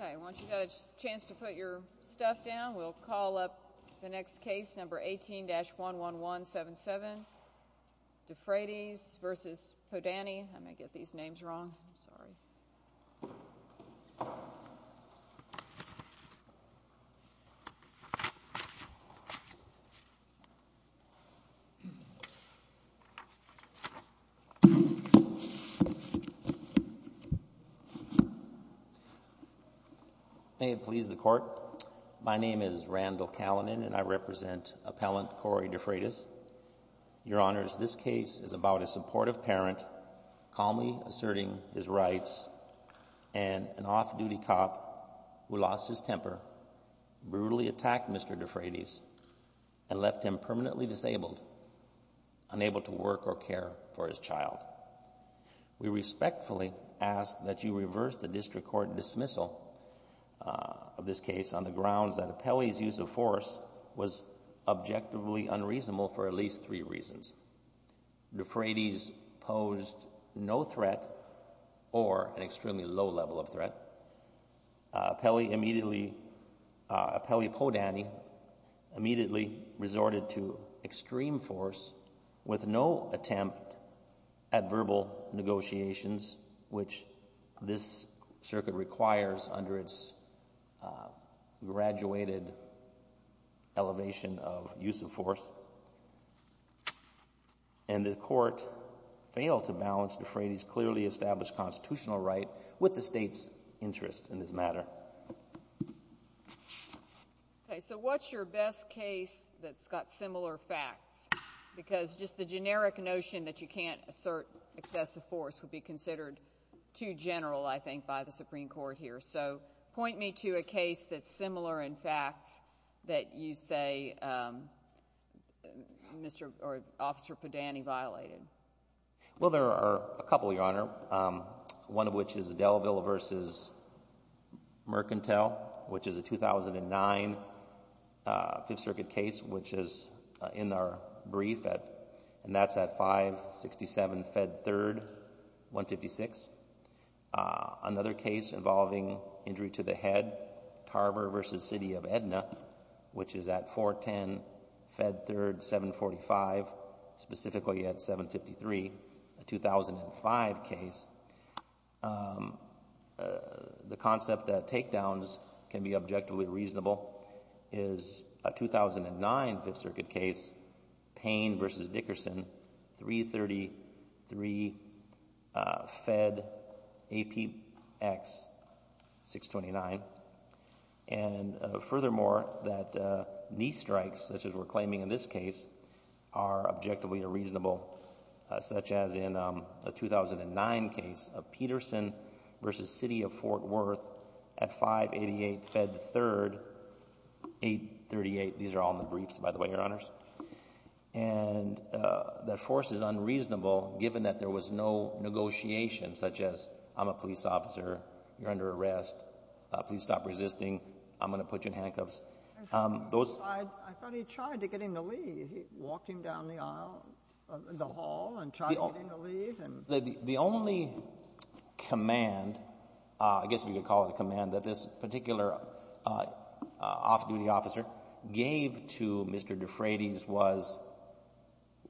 Okay, once you've got a chance to put your stuff down, we'll call up the next case, number 18-11177, Defrades v. Podany, I might get these names wrong, I'm sorry. May it please the court, my name is Randall Callinan and I represent appellant Cory Defrades. Your Honors, this case is about a supportive parent calmly asserting his rights and an off-duty cop who lost his temper, brutally attacked Mr. Defrades and left him permanently disabled, unable to work or care for his child. We respectfully ask that you reverse the district court dismissal of this case on the grounds that Appellee's use of force was objectively unreasonable for at least three reasons. Defrades posed no threat or an extremely low level of threat, Appellee Podany immediately resorted to extreme force with no attempt at verbal negotiations, which this circuit requires under its graduated elevation of use of force. And the court failed to balance Defrades' clearly established constitutional right with the state's interest in this matter. Okay, so what's your best case that's got similar facts? Because just the generic notion that you can't assert excessive force would be considered too general, I think, by the Supreme Court here. So point me to a case that's similar in facts that you say, um, Mr.... or Officer Podany violated. Well, there are a couple, Your Honor, um, one of which is Delaville v. Mercantile, which is a 2009, uh, Fifth Circuit case, which is in our brief at... and that's at 567 Fed 3rd, 156, uh, another case involving injury to the head, Tarver v. City of Edna, which is at 410 Fed 3rd, 745, specifically at 753, a 2005 case, um, the concept that takedowns reasonable is a 2009 Fifth Circuit case, Payne v. Dickerson, 333 Fed APX 629. And furthermore, that, uh, knee strikes, such as we're claiming in this case, are objectively a reasonable, uh, such as in, um, a 2009 case of Peterson v. City of Fort Worth at 588 Fed 3rd, 838, these are all in the briefs, by the way, Your Honors, and, uh, that force is unreasonable given that there was no negotiation, such as, I'm a police officer, you're under arrest, please stop resisting, I'm going to put you in handcuffs, um, those... The whole, and trying to get him to leave, and... The only command, uh, I guess we could call it a command that this particular, uh, off-duty officer gave to Mr. DeFratis was,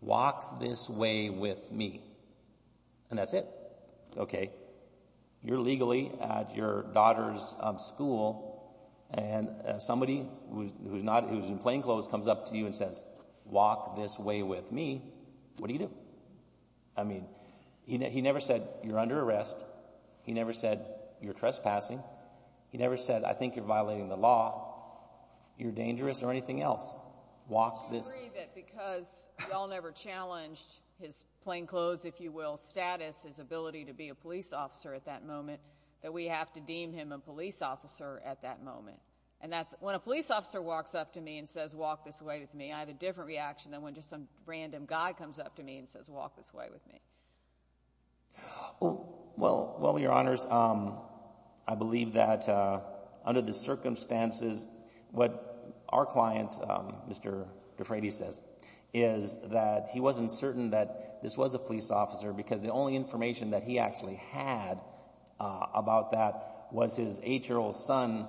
walk this way with me, and that's it, okay, you're legally at your daughter's school, and somebody who's not, who's in plainclothes comes up to you and says, walk this way with me, what do you do? I mean, he never said, you're under arrest, he never said, you're trespassing, he never said, I think you're violating the law, you're dangerous, or anything else. Walk this... I agree that because y'all never challenged his plainclothes, if you will, status, his ability to be a police officer at that moment, that we have to deem him a police officer at that moment, and that's, when a police officer walks up to me and says, walk this way with me, I have a different reaction than when just some random guy comes up to me and says, walk this way with me. Well, well, well, your honors, um, I believe that, uh, under the circumstances, what our client, um, Mr. DeFratis says, is that he wasn't certain that this was a police officer because the only information that he actually had, uh, about that was his eight-year-old son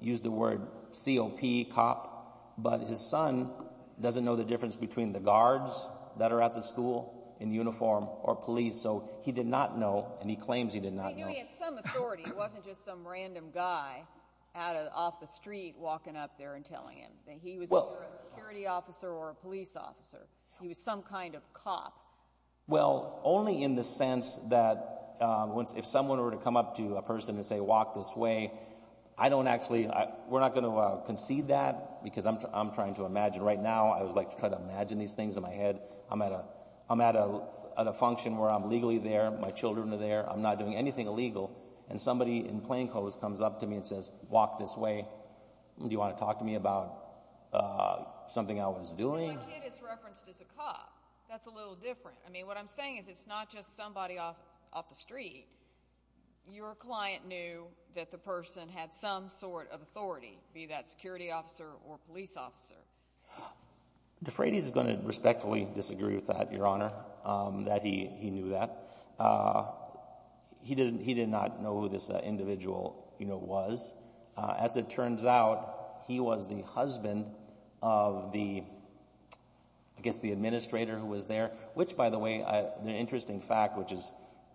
used the word C.O.P., cop, but his son doesn't know the difference between the guards that are at the school in uniform or police, so he did not know, and he claims he did not know. He knew he had some authority. He wasn't just some random guy out of, off the street walking up there and telling him that he was either a security officer or a police officer. He was some kind of cop. Well, only in the sense that, uh, once, if someone were to come up to a person and say, walk this way, I don't actually, we're not going to, uh, concede that because I'm trying to imagine right now, I would like to try to imagine these things in my head. I'm at a, I'm at a, at a function where I'm legally there, my children are there, I'm not doing anything illegal, and somebody in plainclothes comes up to me and says, walk this way. Do you want to talk to me about, uh, something I was doing? Because my kid is referenced as a cop. That's a little different. I mean, what I'm saying is it's not just somebody off, off the street. Your client knew that the person had some sort of authority, be that security officer or police officer. DeFratis is going to respectfully disagree with that, Your Honor, um, that he, he knew that. Uh, he didn't, he did not know who this, uh, individual, you know, was. As it turns out, he was the husband of the, I guess the administrator who was there, which by the way, the interesting fact, which is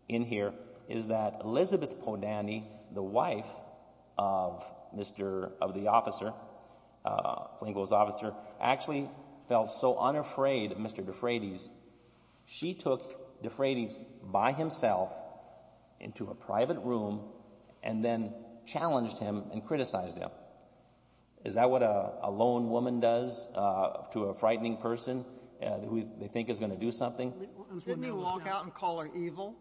in here, is that Elizabeth Podany, the wife of Mr., of the officer, uh, plainclothes officer, actually felt so unafraid of Mr. DeFratis, she took DeFratis by himself into a private room and then challenged him and criticized him. Is that what a, a lone woman does, uh, to a frightening person, uh, who they think is going to do something? Didn't he walk out and call her evil?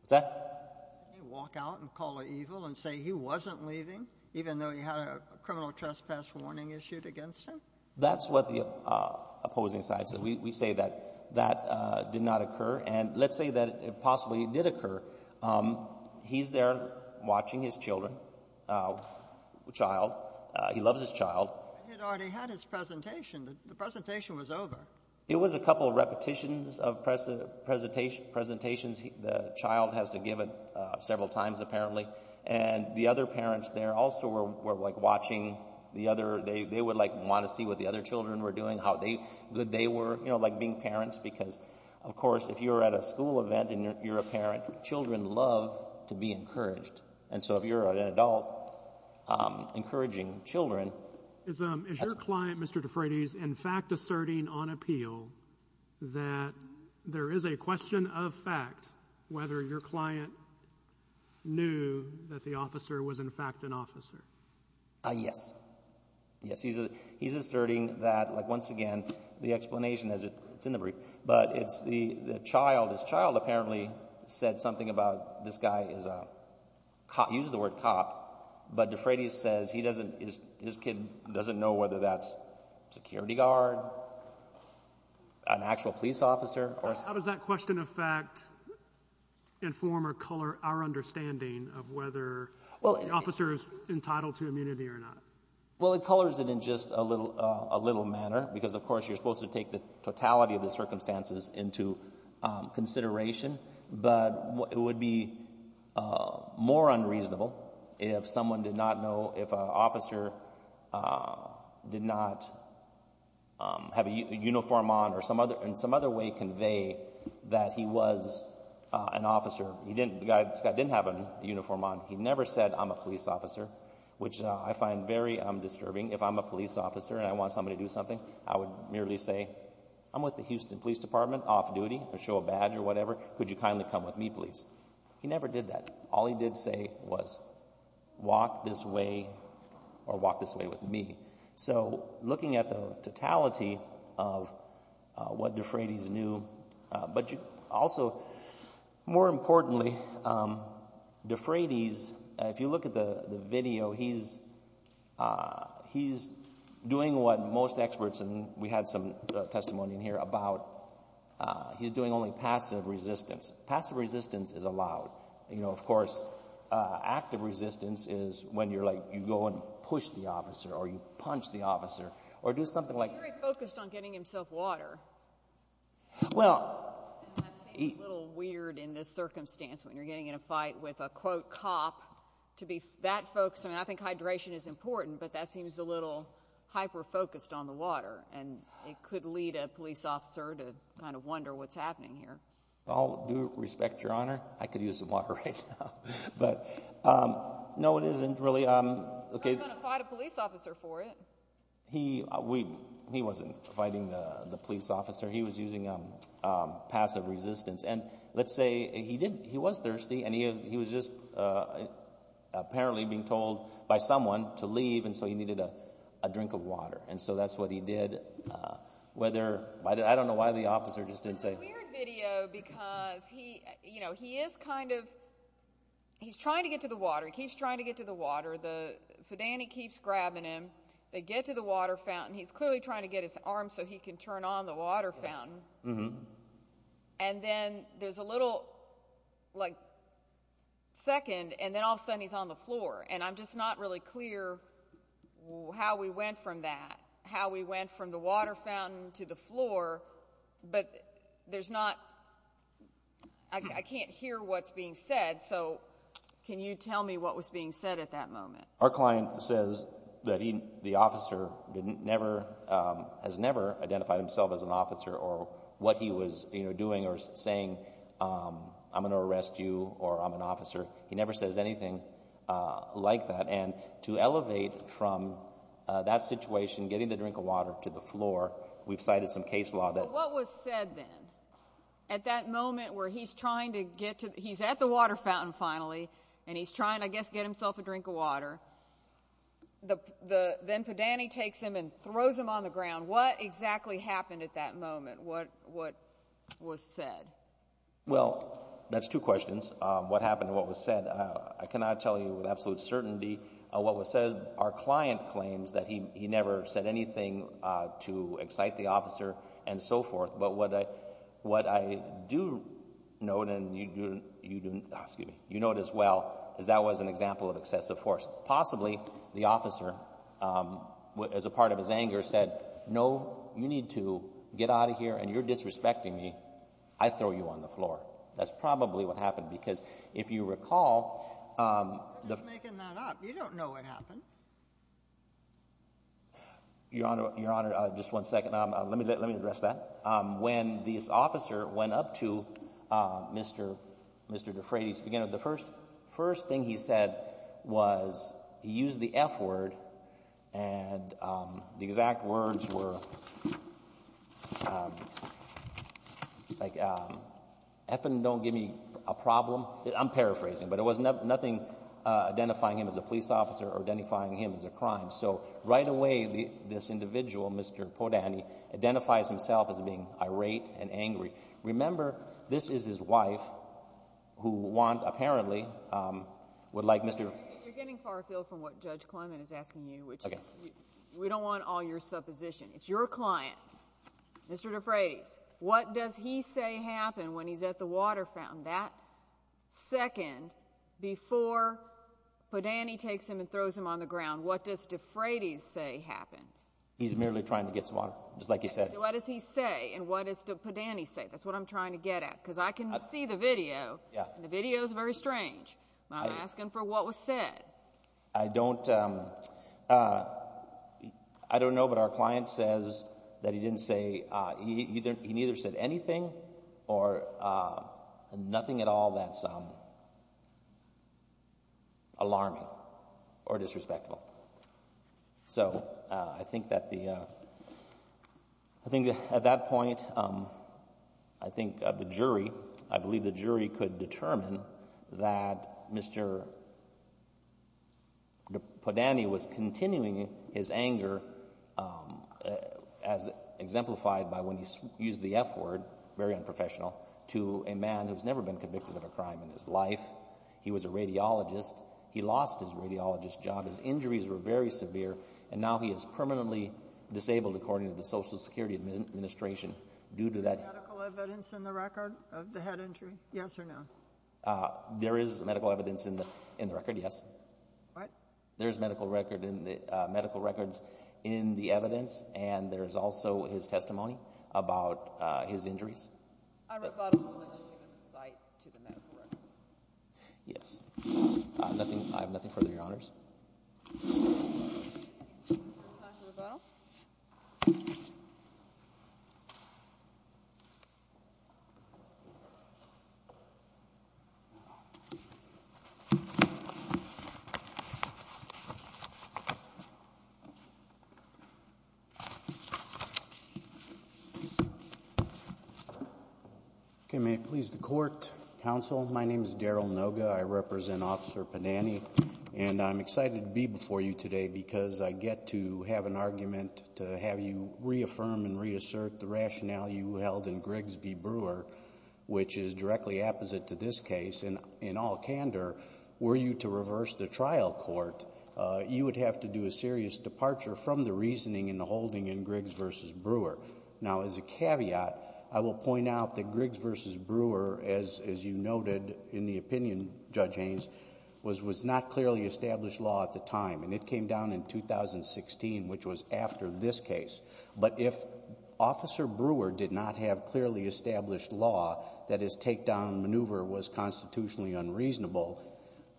What's that? Didn't he walk out and call her evil and say he wasn't leaving, even though he had a criminal trespass warning issued against him? That's what the, uh, opposing side said. We, we say that, that, uh, did not occur and let's say that it possibly did occur, um, he's there watching his children, uh, child, uh, he loves his child. He had already had his presentation, the presentation was over. It was a couple of repetitions of press, uh, presentation, presentations, the child has to give it, uh, several times apparently and the other parents there also were, were like watching the other, they, they would like want to see what the other children were doing, how they, that they were, you know, like being parents because of course if you're at a school event and you're a parent, children love to be encouraged and so if you're an adult, um, encouraging children. Is, um, is your client, Mr. DeFratis, in fact asserting on appeal that there is a question of facts whether your client knew that the officer was in fact an officer? Uh, yes. Yes, he's a, he's asserting that, like once again, the explanation is, it's in the brief, but it's the, the child, his child apparently said something about this guy is a cop, used the word cop, but DeFratis says he doesn't, his, his kid doesn't know whether that's security guard, an actual police officer, or... How does that question of fact inform or color our understanding of whether the officer is entitled to immunity or not? Well, it colors it in just a little, uh, a little manner because of course you're supposed to take the totality of the circumstances into, um, consideration, but what, it would be, uh, more unreasonable if someone did not know, if a officer, uh, did not, um, have a uniform on or some other, in some other way convey that he was, uh, an officer. He didn't, this guy didn't have a uniform on. He never said, I'm a police officer, which, uh, I find very, um, disturbing. If I'm a police officer and I want somebody to do something, I would merely say, I'm with the Houston Police Department, off duty, I show a badge or whatever, could you kindly come with me, please? He never did that. All he did say was, walk this way or walk this way with me. So looking at the totality of, uh, what DeFratis knew, uh, but you also, more importantly, um, DeFratis, if you look at the video, he's, uh, he's doing what most experts, and we had some, uh, testimony in here about, uh, he's doing only passive resistance. Passive resistance is allowed. You know, of course, uh, active resistance is when you're like, you go and push the officer or you punch the officer or do something like... He's very focused on getting himself water. Well... And that seems a little weird in this circumstance, when you're getting in a fight with a, quote, cop, to be that focused, I mean, I think hydration is important, but that seems a little hyper-focused on the water, and it could lead a police officer to kind of wonder what's happening here. Well, due respect, Your Honor, I could use some water right now, but, um, no, it isn't really, um... You're not going to fight a police officer for it. He... we... he wasn't fighting the police officer. He was using, um, um, passive resistance, and let's say he did... he was thirsty, and he was just, uh, apparently being told by someone to leave, and so he needed a drink of water. And so that's what he did. Uh, whether... I don't know why the officer just didn't say... It's a weird video because he... you know, he is kind of... he's trying to get to the water. He keeps trying to get to the water. The FIDANI keeps grabbing him. They get to the water fountain. He's clearly trying to get his arms so he can turn on the water fountain. Yes. Mm-hmm. And then there's a little, like, second, and then all of a sudden he's on the floor, and I'm just not really clear how we went from that, how we went from the water fountain to the floor, but there's not... I... I can't hear what's being said, so can you tell me what was being said at that moment? Our client says that he... the officer didn't... never, um, has never identified himself as an officer or what he was, you know, doing or saying, um, I'm going to arrest you or I'm an officer. He never says anything, uh, like that, and to elevate from, uh, that situation, getting the drink of water to the floor, we've cited some case law that... But what was said then? At that moment where he's trying to get to... he's at the water fountain, finally, and he's trying, I guess, to get himself a drink of water, the... the... then FIDANI takes him and throws him on the ground. What exactly happened at that moment? What... what was said? Well, that's two questions. Um, what happened and what was said, uh, I cannot tell you with absolute certainty, uh, what was said. Our client claims that he... he never said anything, uh, to excite the officer and so forth, but what I... what I do know, and you... you... excuse me, you know it as well, is that was an example of excessive force. Possibly, the officer, um, as a part of his anger said, no, you need to get out of here and you're disrespecting me, I throw you on the floor. That's probably what happened, because if you recall, um... I'm just making that up. You don't know what happened. Your Honor... your Honor, uh, just one second, um, uh, let me let... let me address that. Um, when this officer went up to, um, Mr.... Mr. DeFrati's beginner, the first... first second, before Padani takes him and throws him on the ground, what does DeFrati's say happen? He's merely trying to get some water, just like you said. What does he say, and what does Padani say? That's what I'm trying to get at, because I can see the video... Yeah.... and the video is very strange. I'm asking for what was said. I don't, um, uh, I don't know, but our client says that he didn't say, uh, he... he neither said anything or, uh, nothing at all that's, um, alarming or disrespectful. So, uh, I think that the, uh... I think that at that point, um, I think, uh, the jury, I believe the jury could determine that Mr.... Mr. Padani was continuing his anger, um, uh, as exemplified by when he used the F word, very unprofessional, to a man who's never been convicted of a crime in his life. He was a radiologist. He lost his radiologist job. His injuries were very severe, and now he is permanently disabled according to the Social Security Administration. Due to that... Is there medical evidence in the record of the head injury, yes or no? Uh, there is medical evidence in the, in the record, yes. What? There's medical record in the... uh, medical records in the evidence, and there's also his testimony about, uh, his injuries. I rebuttal that you give us a cite to the medical records. Yes. Uh, nothing... I have nothing further, Your Honors. Time for rebuttal. Okay, may it please the Court, Counsel, my name is Daryl Noga, I represent Officer Padani, and I'm excited to be before you today because I get to have an argument to have you reaffirm and reassert the rationale you held in Grigsby Brewer, which is directly opposite to this case. And, in all candor, were you to reverse the trial court, uh, you would have to do a serious departure from the reasoning and the holding in Griggs v. Brewer. Now, as a caveat, I will point out that Griggs v. Brewer, as, as you noted in the opinion, Judge Haynes, was, was not clearly established law at the time, and it came down in 2016, which was after this case. But if Officer Brewer did not have clearly established law, that his takedown maneuver was constitutionally unreasonable,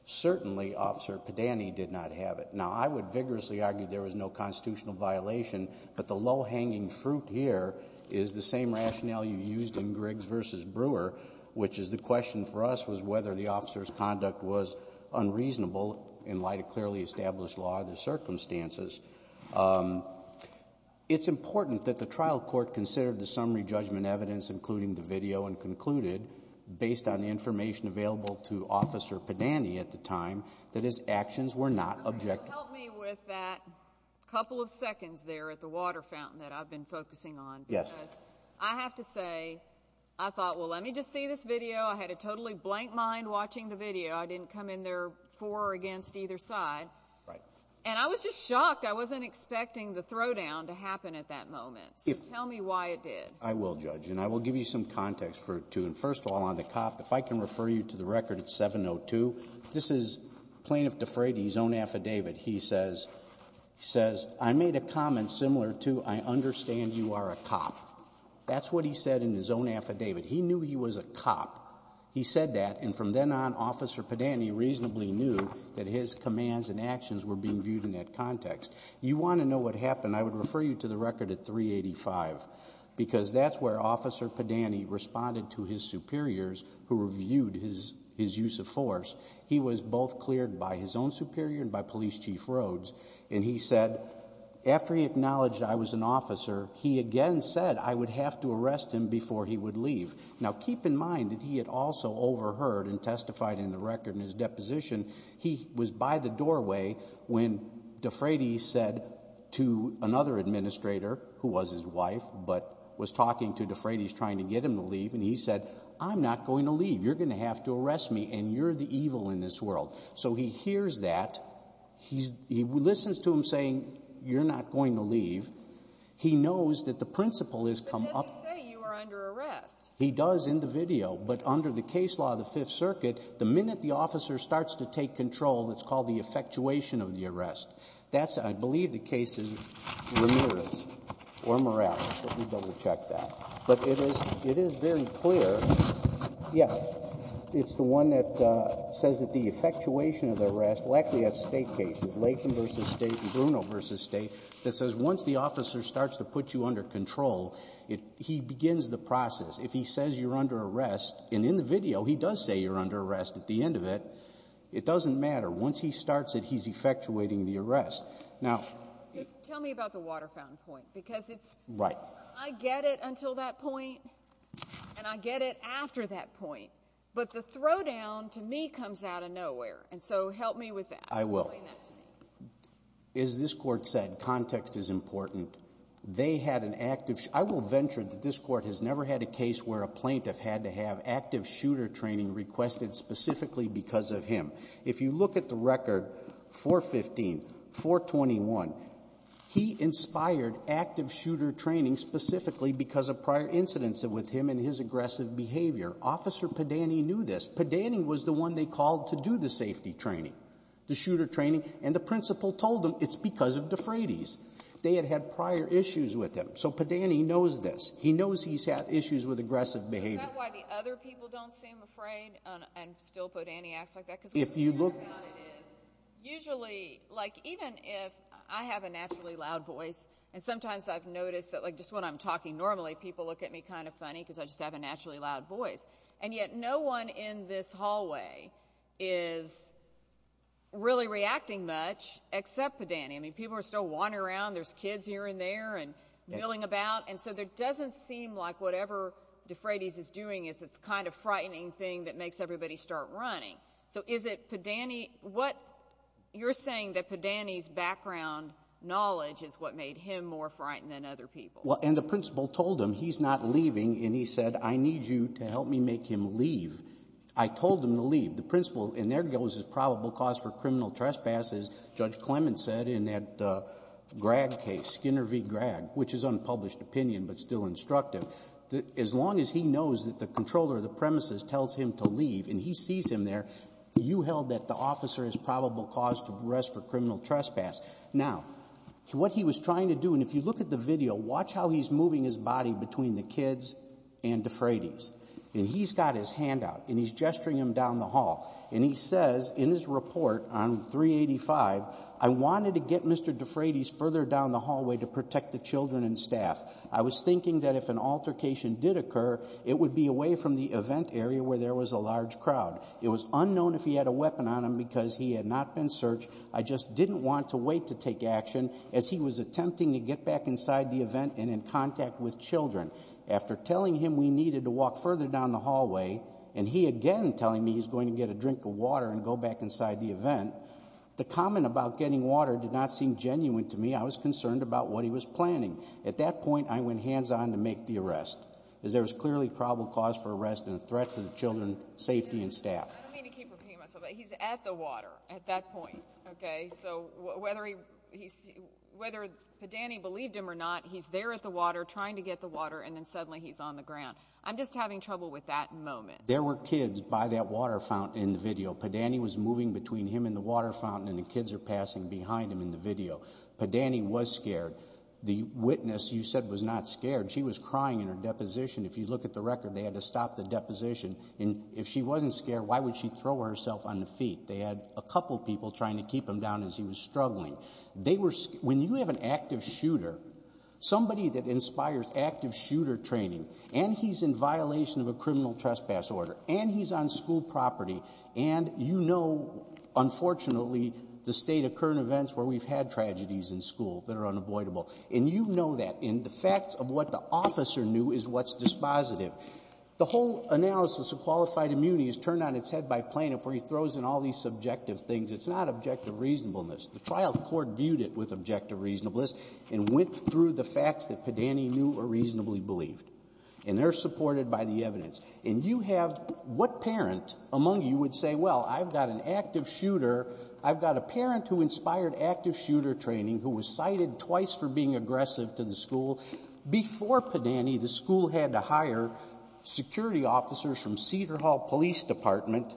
certainly Officer Padani did not have it. Now, I would vigorously argue there was no constitutional violation, but the low-hanging fruit here is the same rationale you used in Griggs v. Brewer, which is the question for us was whether the officer's conduct was unreasonable in light of clearly established law and the circumstances. Um, it's important that the trial court consider the summary judgment evidence, including the information available to Officer Padani at the time, that his actions were not objective. Help me with that couple of seconds there at the water fountain that I've been focusing on. Yes. Because I have to say, I thought, well, let me just see this video. I had a totally blank mind watching the video. I didn't come in there for or against either side. Right. And I was just shocked. I wasn't expecting the throwdown to happen at that moment. So tell me why it did. I will, Judge. And I will give you some context for it, too. First of all, on the cop, if I can refer you to the record at 702, this is Plaintiff DeFredi's own affidavit. He says, he says, I made a comment similar to, I understand you are a cop. That's what he said in his own affidavit. He knew he was a cop. He said that. And from then on, Officer Padani reasonably knew that his commands and actions were being viewed in that context. You want to know what happened, I would refer you to the record at 385, because that's where Officer Padani responded to his superiors who reviewed his use of force. He was both cleared by his own superior and by Police Chief Rhoades, and he said, after he acknowledged I was an officer, he again said I would have to arrest him before he would leave. Now, keep in mind that he had also overheard and testified in the record in his deposition. He was by the doorway when DeFredi said to another administrator, who was his wife, but was talking to DeFredi, trying to get him to leave, and he said, I'm not going to leave. You're going to have to arrest me, and you're the evil in this world. So he hears that. He listens to him saying, you're not going to leave. He knows that the principle has come up. But does he say you are under arrest? He does in the video, but under the case law of the Fifth Circuit, the minute the officer starts to take control, that's called the effectuation of the arrest. That's I believe the case is Ramirez or Morales. Let me double-check that. But it is very clear, yes, it's the one that says that the effectuation of the arrest likely has state cases, Latham v. State and Bruno v. State, that says once the officer starts to put you under control, he begins the process. If he says you're under arrest, and in the video he does say you're under arrest at the end of it, it doesn't matter. Once he starts it, he's effectuating the arrest. Now... I get it until that point, and I get it after that point. But the throwdown to me comes out of nowhere. And so help me with that. I will. As this Court said, context is important. They had an active... I will venture that this Court has never had a case where a plaintiff had to have active shooter training requested specifically because of him. If you look at the record, 415, 421, he inspired active shooter training specifically because of prior incidents with him and his aggressive behavior. Officer Padani knew this. Padani was the one they called to do the safety training, the shooter training, and the principal told them it's because of DeFratis. They had had prior issues with him. So Padani knows this. He knows he's had issues with aggressive behavior. Is that why the other people don't seem afraid and still put anti-acts like that? Because what I'm concerned about is usually, like, even if I have a naturally loud voice, and sometimes I've noticed that, like, just when I'm talking normally, people look at me kind of funny because I just have a naturally loud voice. And yet no one in this hallway is really reacting much except Padani. I mean, people are still wandering around. There's kids here and there and milling about. And so there doesn't seem like whatever DeFratis is doing is this kind of frightening thing that makes everybody start running. So is it Padani? What you're saying that Padani's background knowledge is what made him more frightened than other people? Well, and the principal told him he's not leaving, and he said, I need you to help me make him leave. I told him to leave. The principal, and there goes his probable cause for criminal trespasses, Judge Clements said in that Gragg case, Skinner v. Gragg, which is unpublished opinion but still instructive, as long as he knows that the controller of the premises tells him to leave and he sees him there, you held that the officer is probable cause to arrest for criminal trespass. Now, what he was trying to do, and if you look at the video, watch how he's moving his body between the kids and DeFratis. And he's got his hand out, and he's gesturing him down the hall, and he says in his report on 385, I wanted to get Mr. DeFratis further down the hallway to protect the children and staff. I was thinking that if an altercation did occur, it would be away from the event area where there was a large crowd. It was unknown if he had a weapon on him because he had not been searched. I just didn't want to wait to take action as he was attempting to get back inside the event and in contact with children. After telling him we needed to walk further down the hallway, and he again telling me he's going to get a drink of water and go back inside the event, the comment about getting water did not seem genuine to me. I was concerned about what he was planning. At that point, I went hands-on to make the arrest because there was clearly probable cause for arrest and a threat to the children, safety, and staff. I don't mean to keep repeating myself, but he's at the water at that point, okay? So whether he's, whether Padani believed him or not, he's there at the water trying to get the water, and then suddenly he's on the ground. I'm just having trouble with that moment. There were kids by that water fountain in the video. Padani was moving between him and the water fountain, and the kids are passing behind him in the video. Padani was scared. The witness, you said, was not scared. She was crying in her deposition. If you look at the record, they had to stop the deposition. If she wasn't scared, why would she throw herself on the feet? They had a couple people trying to keep him down as he was struggling. They were, when you have an active shooter, somebody that inspires active shooter training, and he's in violation of a criminal trespass order, and he's on school property, and you know, unfortunately, the state of current events where we've had tragedies in school that are unavoidable. And you know that, and the facts of what the officer knew is what's dispositive. The whole analysis of qualified immunity is turned on its head by plaintiff where he throws in all these subjective things. It's not objective reasonableness. The trial court viewed it with objective reasonableness and went through the facts that Padani knew were reasonably believed. And they're supported by the evidence. And you have, what parent among you would say, well, I've got an active shooter, I've got a parent who inspired active shooter training, who was cited twice for being aggressive to the school, before Padani, the school had to hire security officers from Cedar Hall Police Department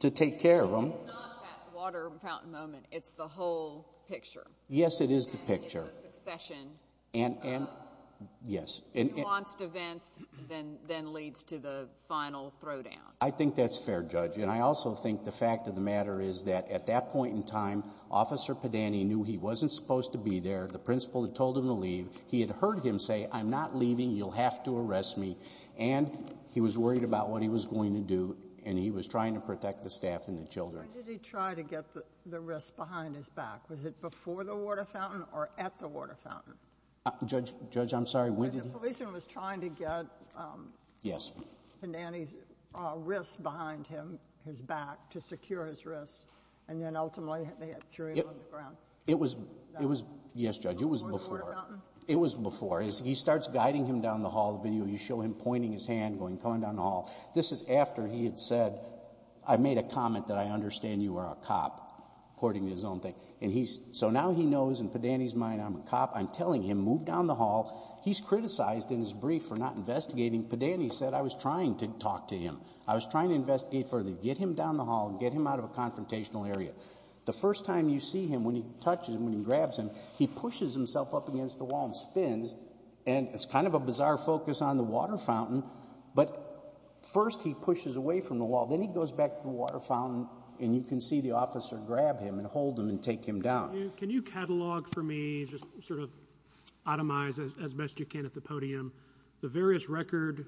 to take care of him. It's not that water fountain moment. It's the whole picture. Yes, it is the picture. And it's a succession of... Yes. Nuanced events, then leads to the final throwdown. I think that's fair, Judge. And I also think the fact of the matter is that at that point in time, Officer Padani knew he wasn't supposed to be there. The principal had told him to leave. He had heard him say, I'm not leaving, you'll have to arrest me. And he was worried about what he was going to do, and he was trying to protect the staff and the children. When did he try to get the wrist behind his back? Was it before the water fountain or at the water fountain? Judge, I'm sorry, when did he... The policeman was trying to get Padani's wrist behind him, his back, to secure his wrist, and then ultimately they threw him on the ground. It was... Yes, Judge. It was before. The water fountain? It was before. He starts guiding him down the hall. You show him pointing his hand, going down the hall. This is after he had said, I made a comment that I understand you are a cop, according to his own thing. So now he knows, in Padani's mind, I'm a cop. I'm telling him, move down the hall. He's criticized in his brief for not investigating. Padani said, I was trying to talk to him. I was trying to investigate further. Get him down the hall. Get him out of a confrontational area. The first time you see him, when he touches him, when he grabs him, he pushes himself up against the wall and spins, and it's kind of a bizarre focus on the water fountain, but first he pushes away from the wall, then he goes back to the water fountain, and you can see the officer grab him and hold him and take him down. Can you catalog for me, just sort of itemize it as best you can at the podium, the various record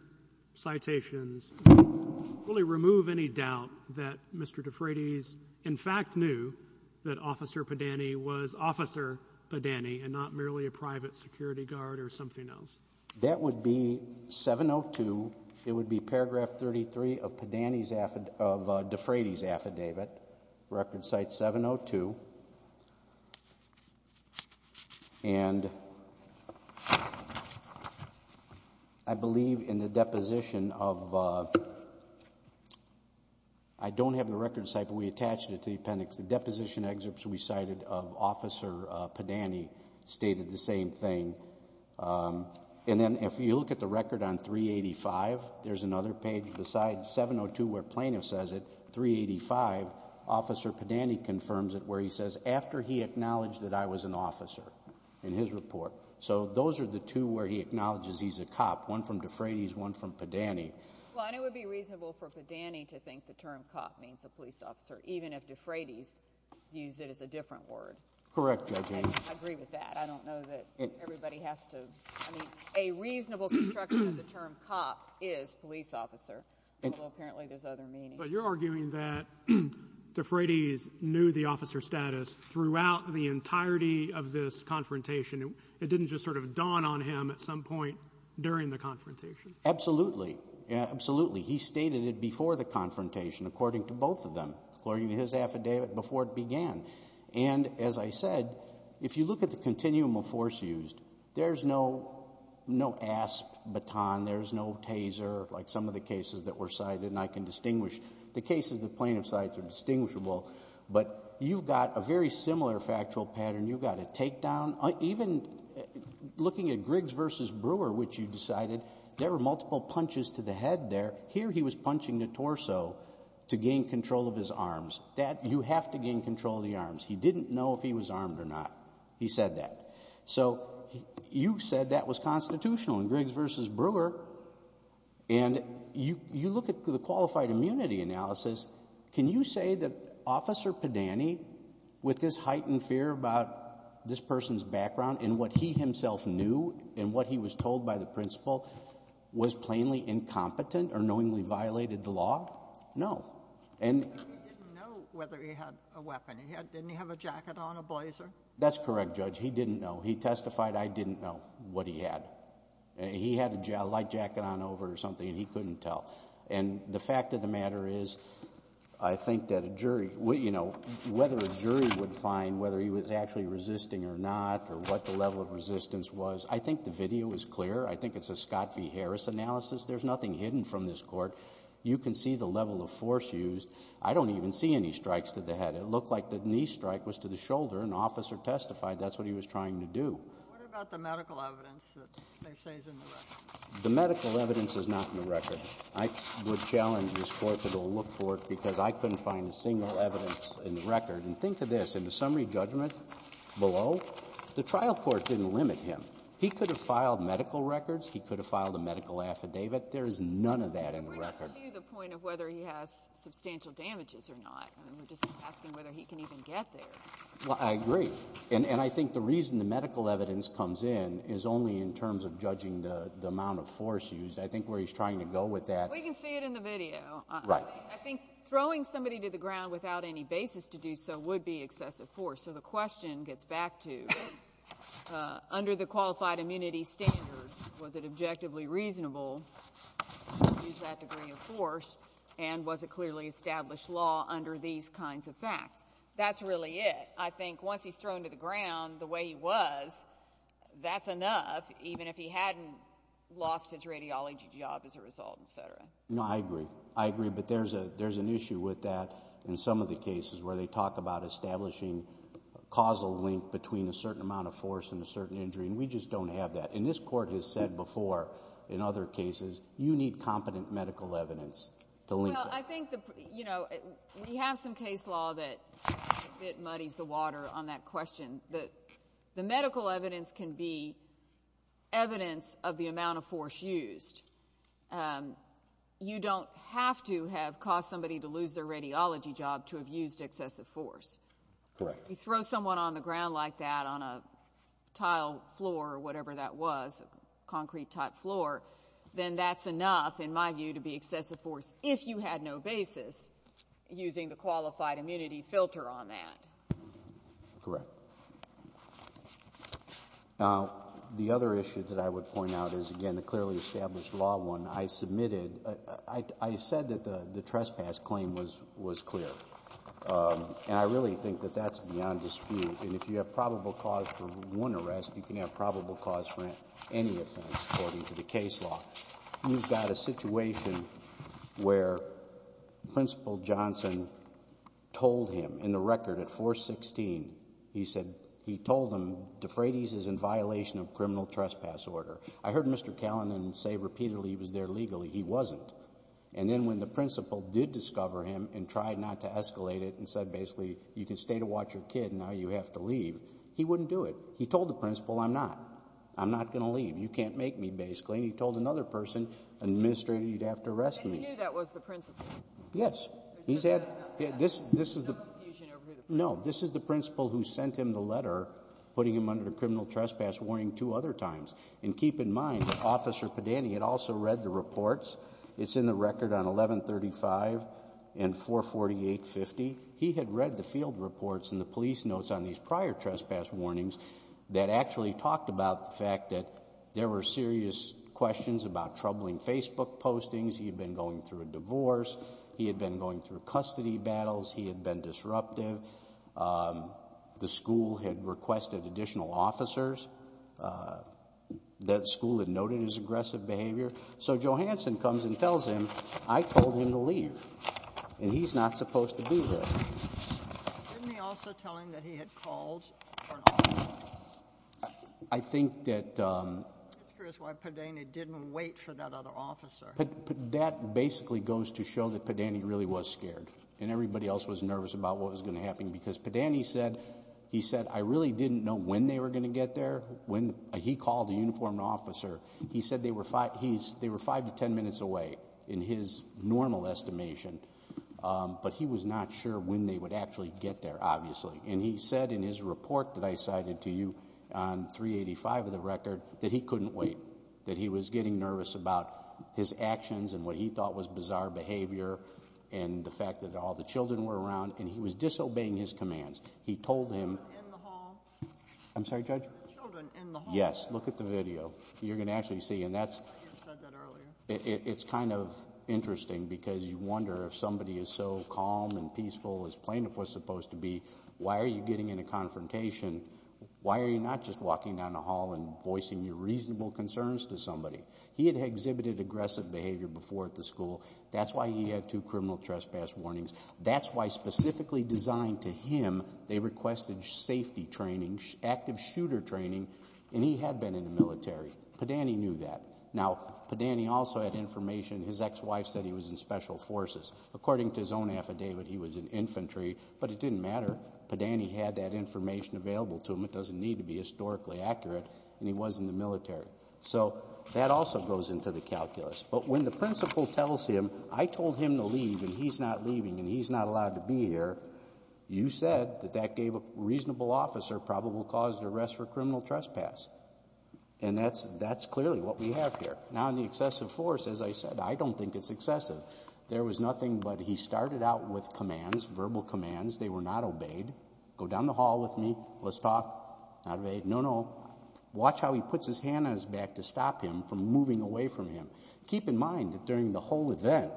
citations, really remove any doubt that Mr. DeFratis, in fact, knew that Officer Padani was Officer Padani and not merely a private security guard or something else? That would be 702. It would be paragraph 33 of DeFratis' affidavit, record site 702, and I believe in the deposition of, I don't have the record site, but we attached it to the appendix, the deposition excerpts we cited of Officer Padani stated the same thing. And then if you look at the record on 385, there's another page beside 702 where Plaintiff says it, 385, Officer Padani confirms it where he says, after he acknowledged that I was an officer in his report. So those are the two where he acknowledges he's a cop, one from DeFratis, one from Padani. Well, and it would be reasonable for Padani to think the term cop means a police officer, even if DeFratis used it as a different word. Correct, Judge Haynes. I agree with that. I don't know that everybody has to, I mean, a reasonable construction of the term cop is police officer, although apparently there's other meanings. But you're arguing that DeFratis knew the officer status throughout the entirety of this confrontation. It didn't just sort of dawn on him at some point during the confrontation. Absolutely. Absolutely. He stated it before the confrontation, according to both of them, according to his affidavit before it began. And as I said, if you look at the continuum of force used, there's no asp, baton, there's no taser, like some of the cases that were cited, and I can distinguish, the cases the plaintiff cites are distinguishable, but you've got a very similar factual pattern. You've got a takedown, even looking at Griggs v. Brewer, which you decided, there were multiple punches to the head there. Here he was punching the torso to gain control of his arms. You have to gain control of the arms. He didn't know if he was armed or not. He said that. So you said that was constitutional in Griggs v. Brewer, and you look at the qualified immunity analysis. Can you say that Officer Padani, with his heightened fear about this person's background and what he himself knew and what he was told by the principal, was plainly incompetent or knowingly violated the law? No. He said he didn't know whether he had a weapon. Didn't he have a jacket on, a blazer? That's correct, Judge. He didn't know. He testified, I didn't know what he had. He had a light jacket on over it or something, and he couldn't tell, and the fact of the matter is, I think that a jury, you know, whether a jury would find whether he was actually resisting or not or what the level of resistance was, I think the video is clear. I think it's a Scott v. Harris analysis. There's nothing hidden from this court. You can see the level of force used. I don't even see any strikes to the head. It looked like the knee strike was to the shoulder, and the officer testified that's what he was trying to do. What about the medical evidence that they say is in the record? The medical evidence is not in the record. I would challenge this court to go look for it because I couldn't find a single evidence in the record, and think of this, in the summary judgment below, the trial court didn't limit him. He could have filed medical records. He could have filed a medical affidavit. There's none of that in the record. But we're not to the point of whether he has substantial damages or not. We're just asking whether he can even get there. Well, I agree, and I think the reason the medical evidence comes in is only in terms of judging the amount of force used. I think where he's trying to go with that— We can see it in the video. Right. I think throwing somebody to the ground without any basis to do so would be excessive force, so the question gets back to, under the qualified immunity standard, was it objectively reasonable to use that degree of force, and was it clearly established law under these kinds of facts? That's really it. I think once he's thrown to the ground the way he was, that's enough, even if he hadn't lost his radiology job as a result, et cetera. No, I agree. I agree, but there's an issue with that in some of the cases where they talk about establishing causal link between a certain amount of force and a certain injury, and we just don't have that. And this Court has said before, in other cases, you need competent medical evidence to link that. Well, I think, you know, we have some case law that muddies the water on that question. The medical evidence can be evidence of the amount of force used. You don't have to have caused somebody to lose their radiology job to have used excessive force. Correct. If you throw someone on the ground like that on a tile floor or whatever that was, a concrete type floor, then that's enough, in my view, to be excessive force if you had no basis using the qualified immunity filter on that. Correct. Now, the other issue that I would point out is, again, the clearly established law one I submitted, I said that the trespass claim was clear, and I really think that that's beyond dispute. And if you have probable cause for one arrest, you can have probable cause for any offense, according to the case law. You've got a situation where Principal Johnson told him, in the record, at 416, he said, he told him, DeFrates is in violation of criminal trespass order. I heard Mr. Callan say repeatedly he was there legally. He wasn't. And then when the Principal did discover him and tried not to escalate it and said, basically, you can stay to watch your kid, and now you have to leave, he wouldn't do it. He told the Principal, I'm not. I'm not going to leave. You can't make me, basically. And he told another person, an administrator, you'd have to arrest me. And he knew that was the Principal? Yes. He's had, this is the- There's no confusion over who the Principal is? No. This is the Principal who sent him the letter putting him under the criminal trespass warning two other times. And keep in mind that Officer Padani had also read the reports. It's in the record on 1135 and 448.50. He had read the field reports and the police notes on these prior trespass warnings that actually talked about the fact that there were serious questions about troubling Facebook postings. He had been going through a divorce. He had been going through custody battles. He had been disruptive. The school had requested additional officers. That school had noted his aggressive behavior. So Johansson comes and tells him, I told him to leave. And he's not supposed to be here. Didn't he also tell him that he had called? I think that- That's why Padani didn't wait for that other officer. That basically goes to show that Padani really was scared. And everybody else was nervous about what was going to happen because Padani said, he said, I really didn't know when they were going to get there. He called a uniformed officer. He said they were five to ten minutes away in his normal estimation. But he was not sure when they would actually get there, obviously. And he said in his report that I cited to you on 385 of the record that he couldn't wait. That he was getting nervous about his actions and what he thought was bizarre behavior and the fact that all the children were around and he was disobeying his commands. He told him- Children in the hall. I'm sorry, Judge? Children in the hall. Yes. Look at the video. You're going to actually see. And that's- You said that earlier. It's kind of interesting because you wonder if somebody is so calm and peaceful as plaintiff was supposed to be, why are you getting in a confrontation? Why are you not just walking down the hall and voicing your reasonable concerns to somebody? He had exhibited aggressive behavior before at the school. That's why he had two criminal trespass warnings. That's why specifically designed to him, they requested safety training, active shooter training and he had been in the military. Padani knew that. Now, Padani also had information. His ex-wife said he was in special forces. According to his own affidavit, he was in infantry, but it didn't matter. Padani had that information available to him. It doesn't need to be historically accurate and he was in the military. So that also goes into the calculus. But when the principal tells him, I told him to leave and he's not leaving and he's not allowed to be here. You said that that gave a reasonable officer probable cause to arrest for criminal trespass. And that's clearly what we have here. Now, the excessive force, as I said, I don't think it's excessive. There was nothing but he started out with commands, verbal commands. They were not obeyed. Go down the hall with me. Let's talk. Not obeyed. No, no. Watch how he puts his hand on his back to stop him from moving away from him. Keep in mind that during the whole event,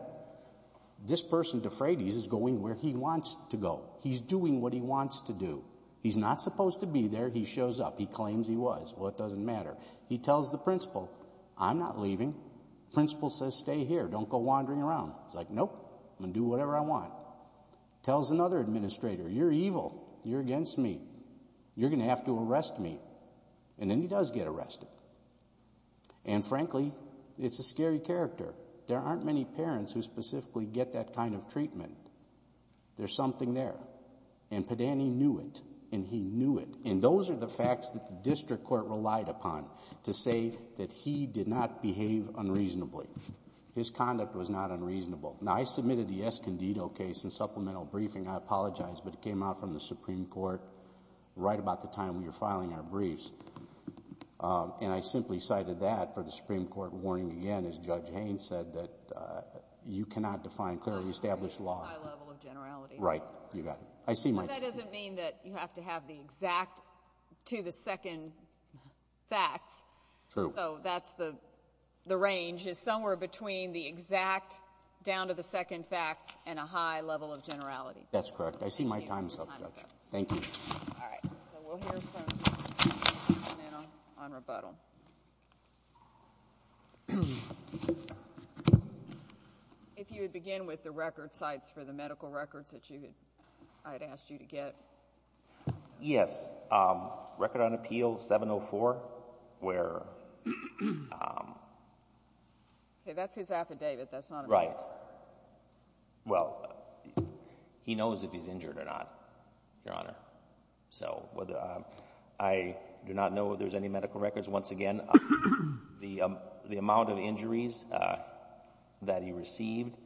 this person, DeFratis, is going where he wants to go. He's doing what he wants to do. He's not supposed to be there. He shows up. He claims he was. Well, it doesn't matter. He tells the principal, I'm not leaving. The principal says, stay here. Don't go wandering around. He's like, nope. I'm going to do whatever I want. Tells another administrator, you're evil. You're against me. You're going to have to arrest me. And then he does get arrested. And frankly, it's a scary character. There aren't many parents who specifically get that kind of treatment. There's something there. And Padani knew it. And he knew it. And those are the facts that the district court relied upon to say that he did not behave unreasonably. His conduct was not unreasonable. Now, I submitted the Escondido case in supplemental briefing. I apologize, but it came out from the Supreme Court right about the time we were filing our briefs. And I simply cited that for the Supreme Court warning again, as Judge Haynes said, that you cannot define clearly established law. A high level of generality. Right. You got it. I see my point. But that doesn't mean that you have to have the exact to the second facts. True. So that's the range is somewhere between the exact down to the second facts and a high level of generality. That's correct. I see my time's up, Judge. Thank you. All right. So we'll hear from Mr. Padani now on rebuttal. If you would begin with the record sites for the medical records that I had asked you to get. Yes. Record on Appeal 704, where... Okay, that's his affidavit. That's not a... Right. Well, he knows if he's injured or not, Your Honor. So I do not know if there's any medical records. Once again, the amount of injuries that he received,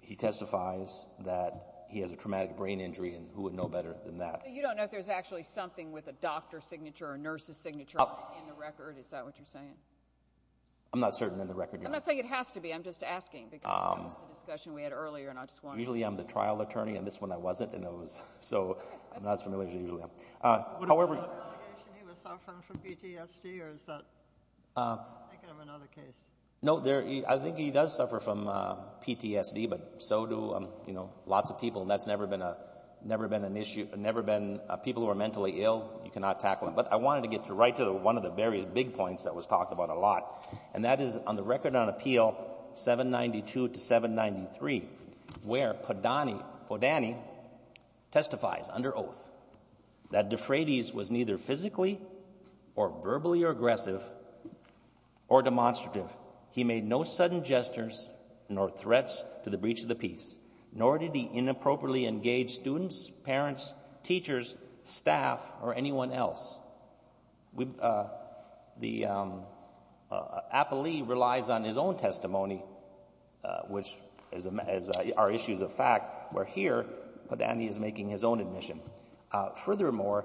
he testifies that he has a traumatic brain injury. And who would know better than that? So you don't know if there's actually something with a doctor's signature or a nurse's signature in the record? Is that what you're saying? I'm not certain in the record. I'm not saying it has to be. I'm just asking, because it comes to the discussion we had earlier, and I just wanted to... Usually, I'm the trial attorney, and this one I wasn't, and it was so... I'm not as familiar as I usually am. However... Was it an allegation he was suffering from PTSD, or is that... I think I have another case. No, I think he does suffer from PTSD, but so do lots of people, and that's never been a... People who are mentally ill, you cannot tackle them. But I wanted to get right to one of the various big points that was talked about a lot. And that is on the record on Appeal 792 to 793, where Podany testifies under oath that Defrades was neither physically or verbally aggressive or demonstrative. He made no sudden gestures nor threats to the breach of the peace, nor did he inappropriately engage students, parents, teachers, staff, or anyone else. The... Appellee relies on his own testimony, which are issues of fact, where here, Podany is making his own admission. Furthermore,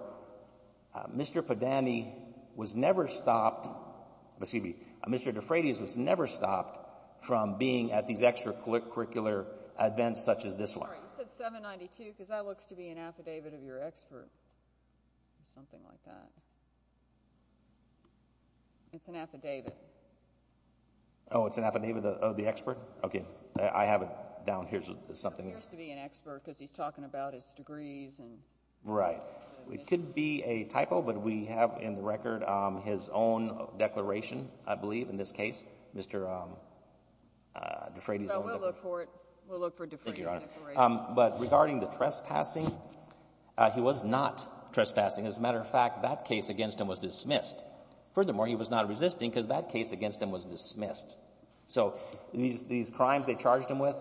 Mr. Podany was never stopped... Excuse me, Mr. Defrades was never stopped from being at these extracurricular events such as this one. You said 792, because that looks to be an affidavit of your expert, or something like that. It's an affidavit. Oh, it's an affidavit of the expert? Okay. I have it down here as something... It appears to be an expert, because he's talking about his degrees and... Right. It could be a typo, but we have in the record his own declaration, I believe, in this case. Mr. Defrades... So we'll look for it. We'll look for Defrades' declaration. Thank you, Your Honor. But regarding the trespassing, he was not trespassing. As a matter of fact, that case against him was dismissed. Furthermore, he was not resisting, because that case against him was dismissed. So, these crimes they charged him with,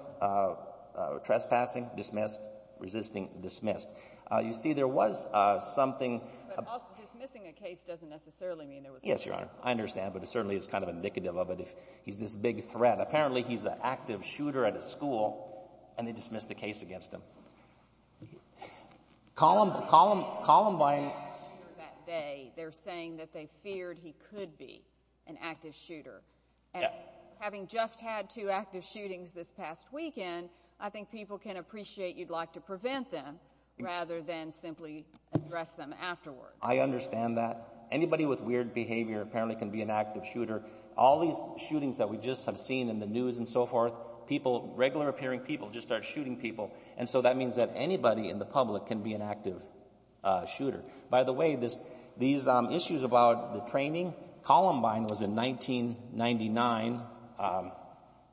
trespassing, dismissed, resisting, dismissed. You see, there was something... But also, dismissing a case doesn't necessarily mean there was... Yes, Your Honor. I understand, but it certainly is kind of indicative of it, if he's this big threat. Apparently, he's an active shooter at a school, and they dismissed the case against him. Columbine... He was an active shooter that day. They're saying that they feared he could be an active shooter. And having just had two active shootings this past weekend, I think people can appreciate you'd like to prevent them, rather than simply address them afterwards. I understand that. Anybody with weird behavior apparently can be an active shooter. All these shootings that we just have seen in the news and so forth, people, regular appearing people, just start shooting people. And so that means that anybody in the public can be an active shooter. By the way, these issues about the training, Columbine was in 1999,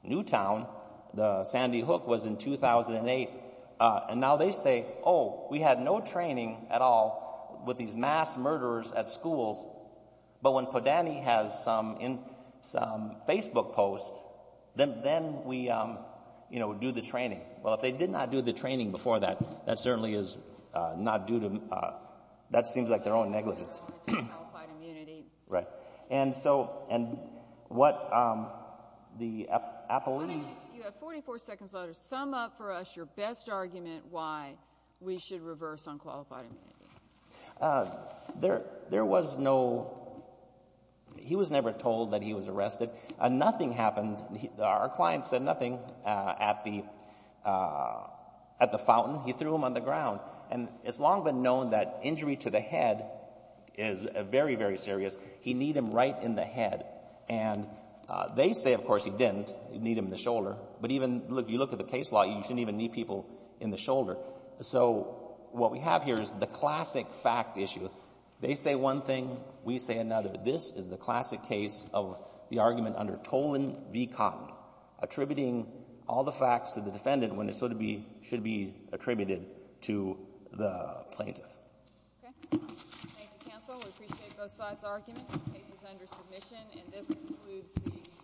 Newtown, the Sandy Hook was in 2008, and now they say, oh, we had no training at all with these mass murderers at schools, but when Podany has some Facebook posts, then we do the training. Well, if they did not do the training before that, that certainly is not due to them. That seems like their own negligence. Unqualified immunity. Right. And so what the appellees... You have 44 seconds left to sum up for us your best argument why we should reverse unqualified immunity. There was no... He was never told that he was arrested. Nothing happened. Our client said nothing at the fountain. He threw him on the ground. And it's long been known that injury to the head is very, very serious. He kneed him right in the head. And they say, of course, he didn't. He kneed him in the shoulder. But even if you look at the case law, you shouldn't even knee people in the shoulder. So what we have here is the classic fact issue. They say one thing, we say another. This is the classic case of the argument under Tolan v. Cotton, attributing all the facts to the defendant when it should be attributed to the plaintiff. Okay. Thank you, counsel. We appreciate both sides' arguments. And this concludes the hearing.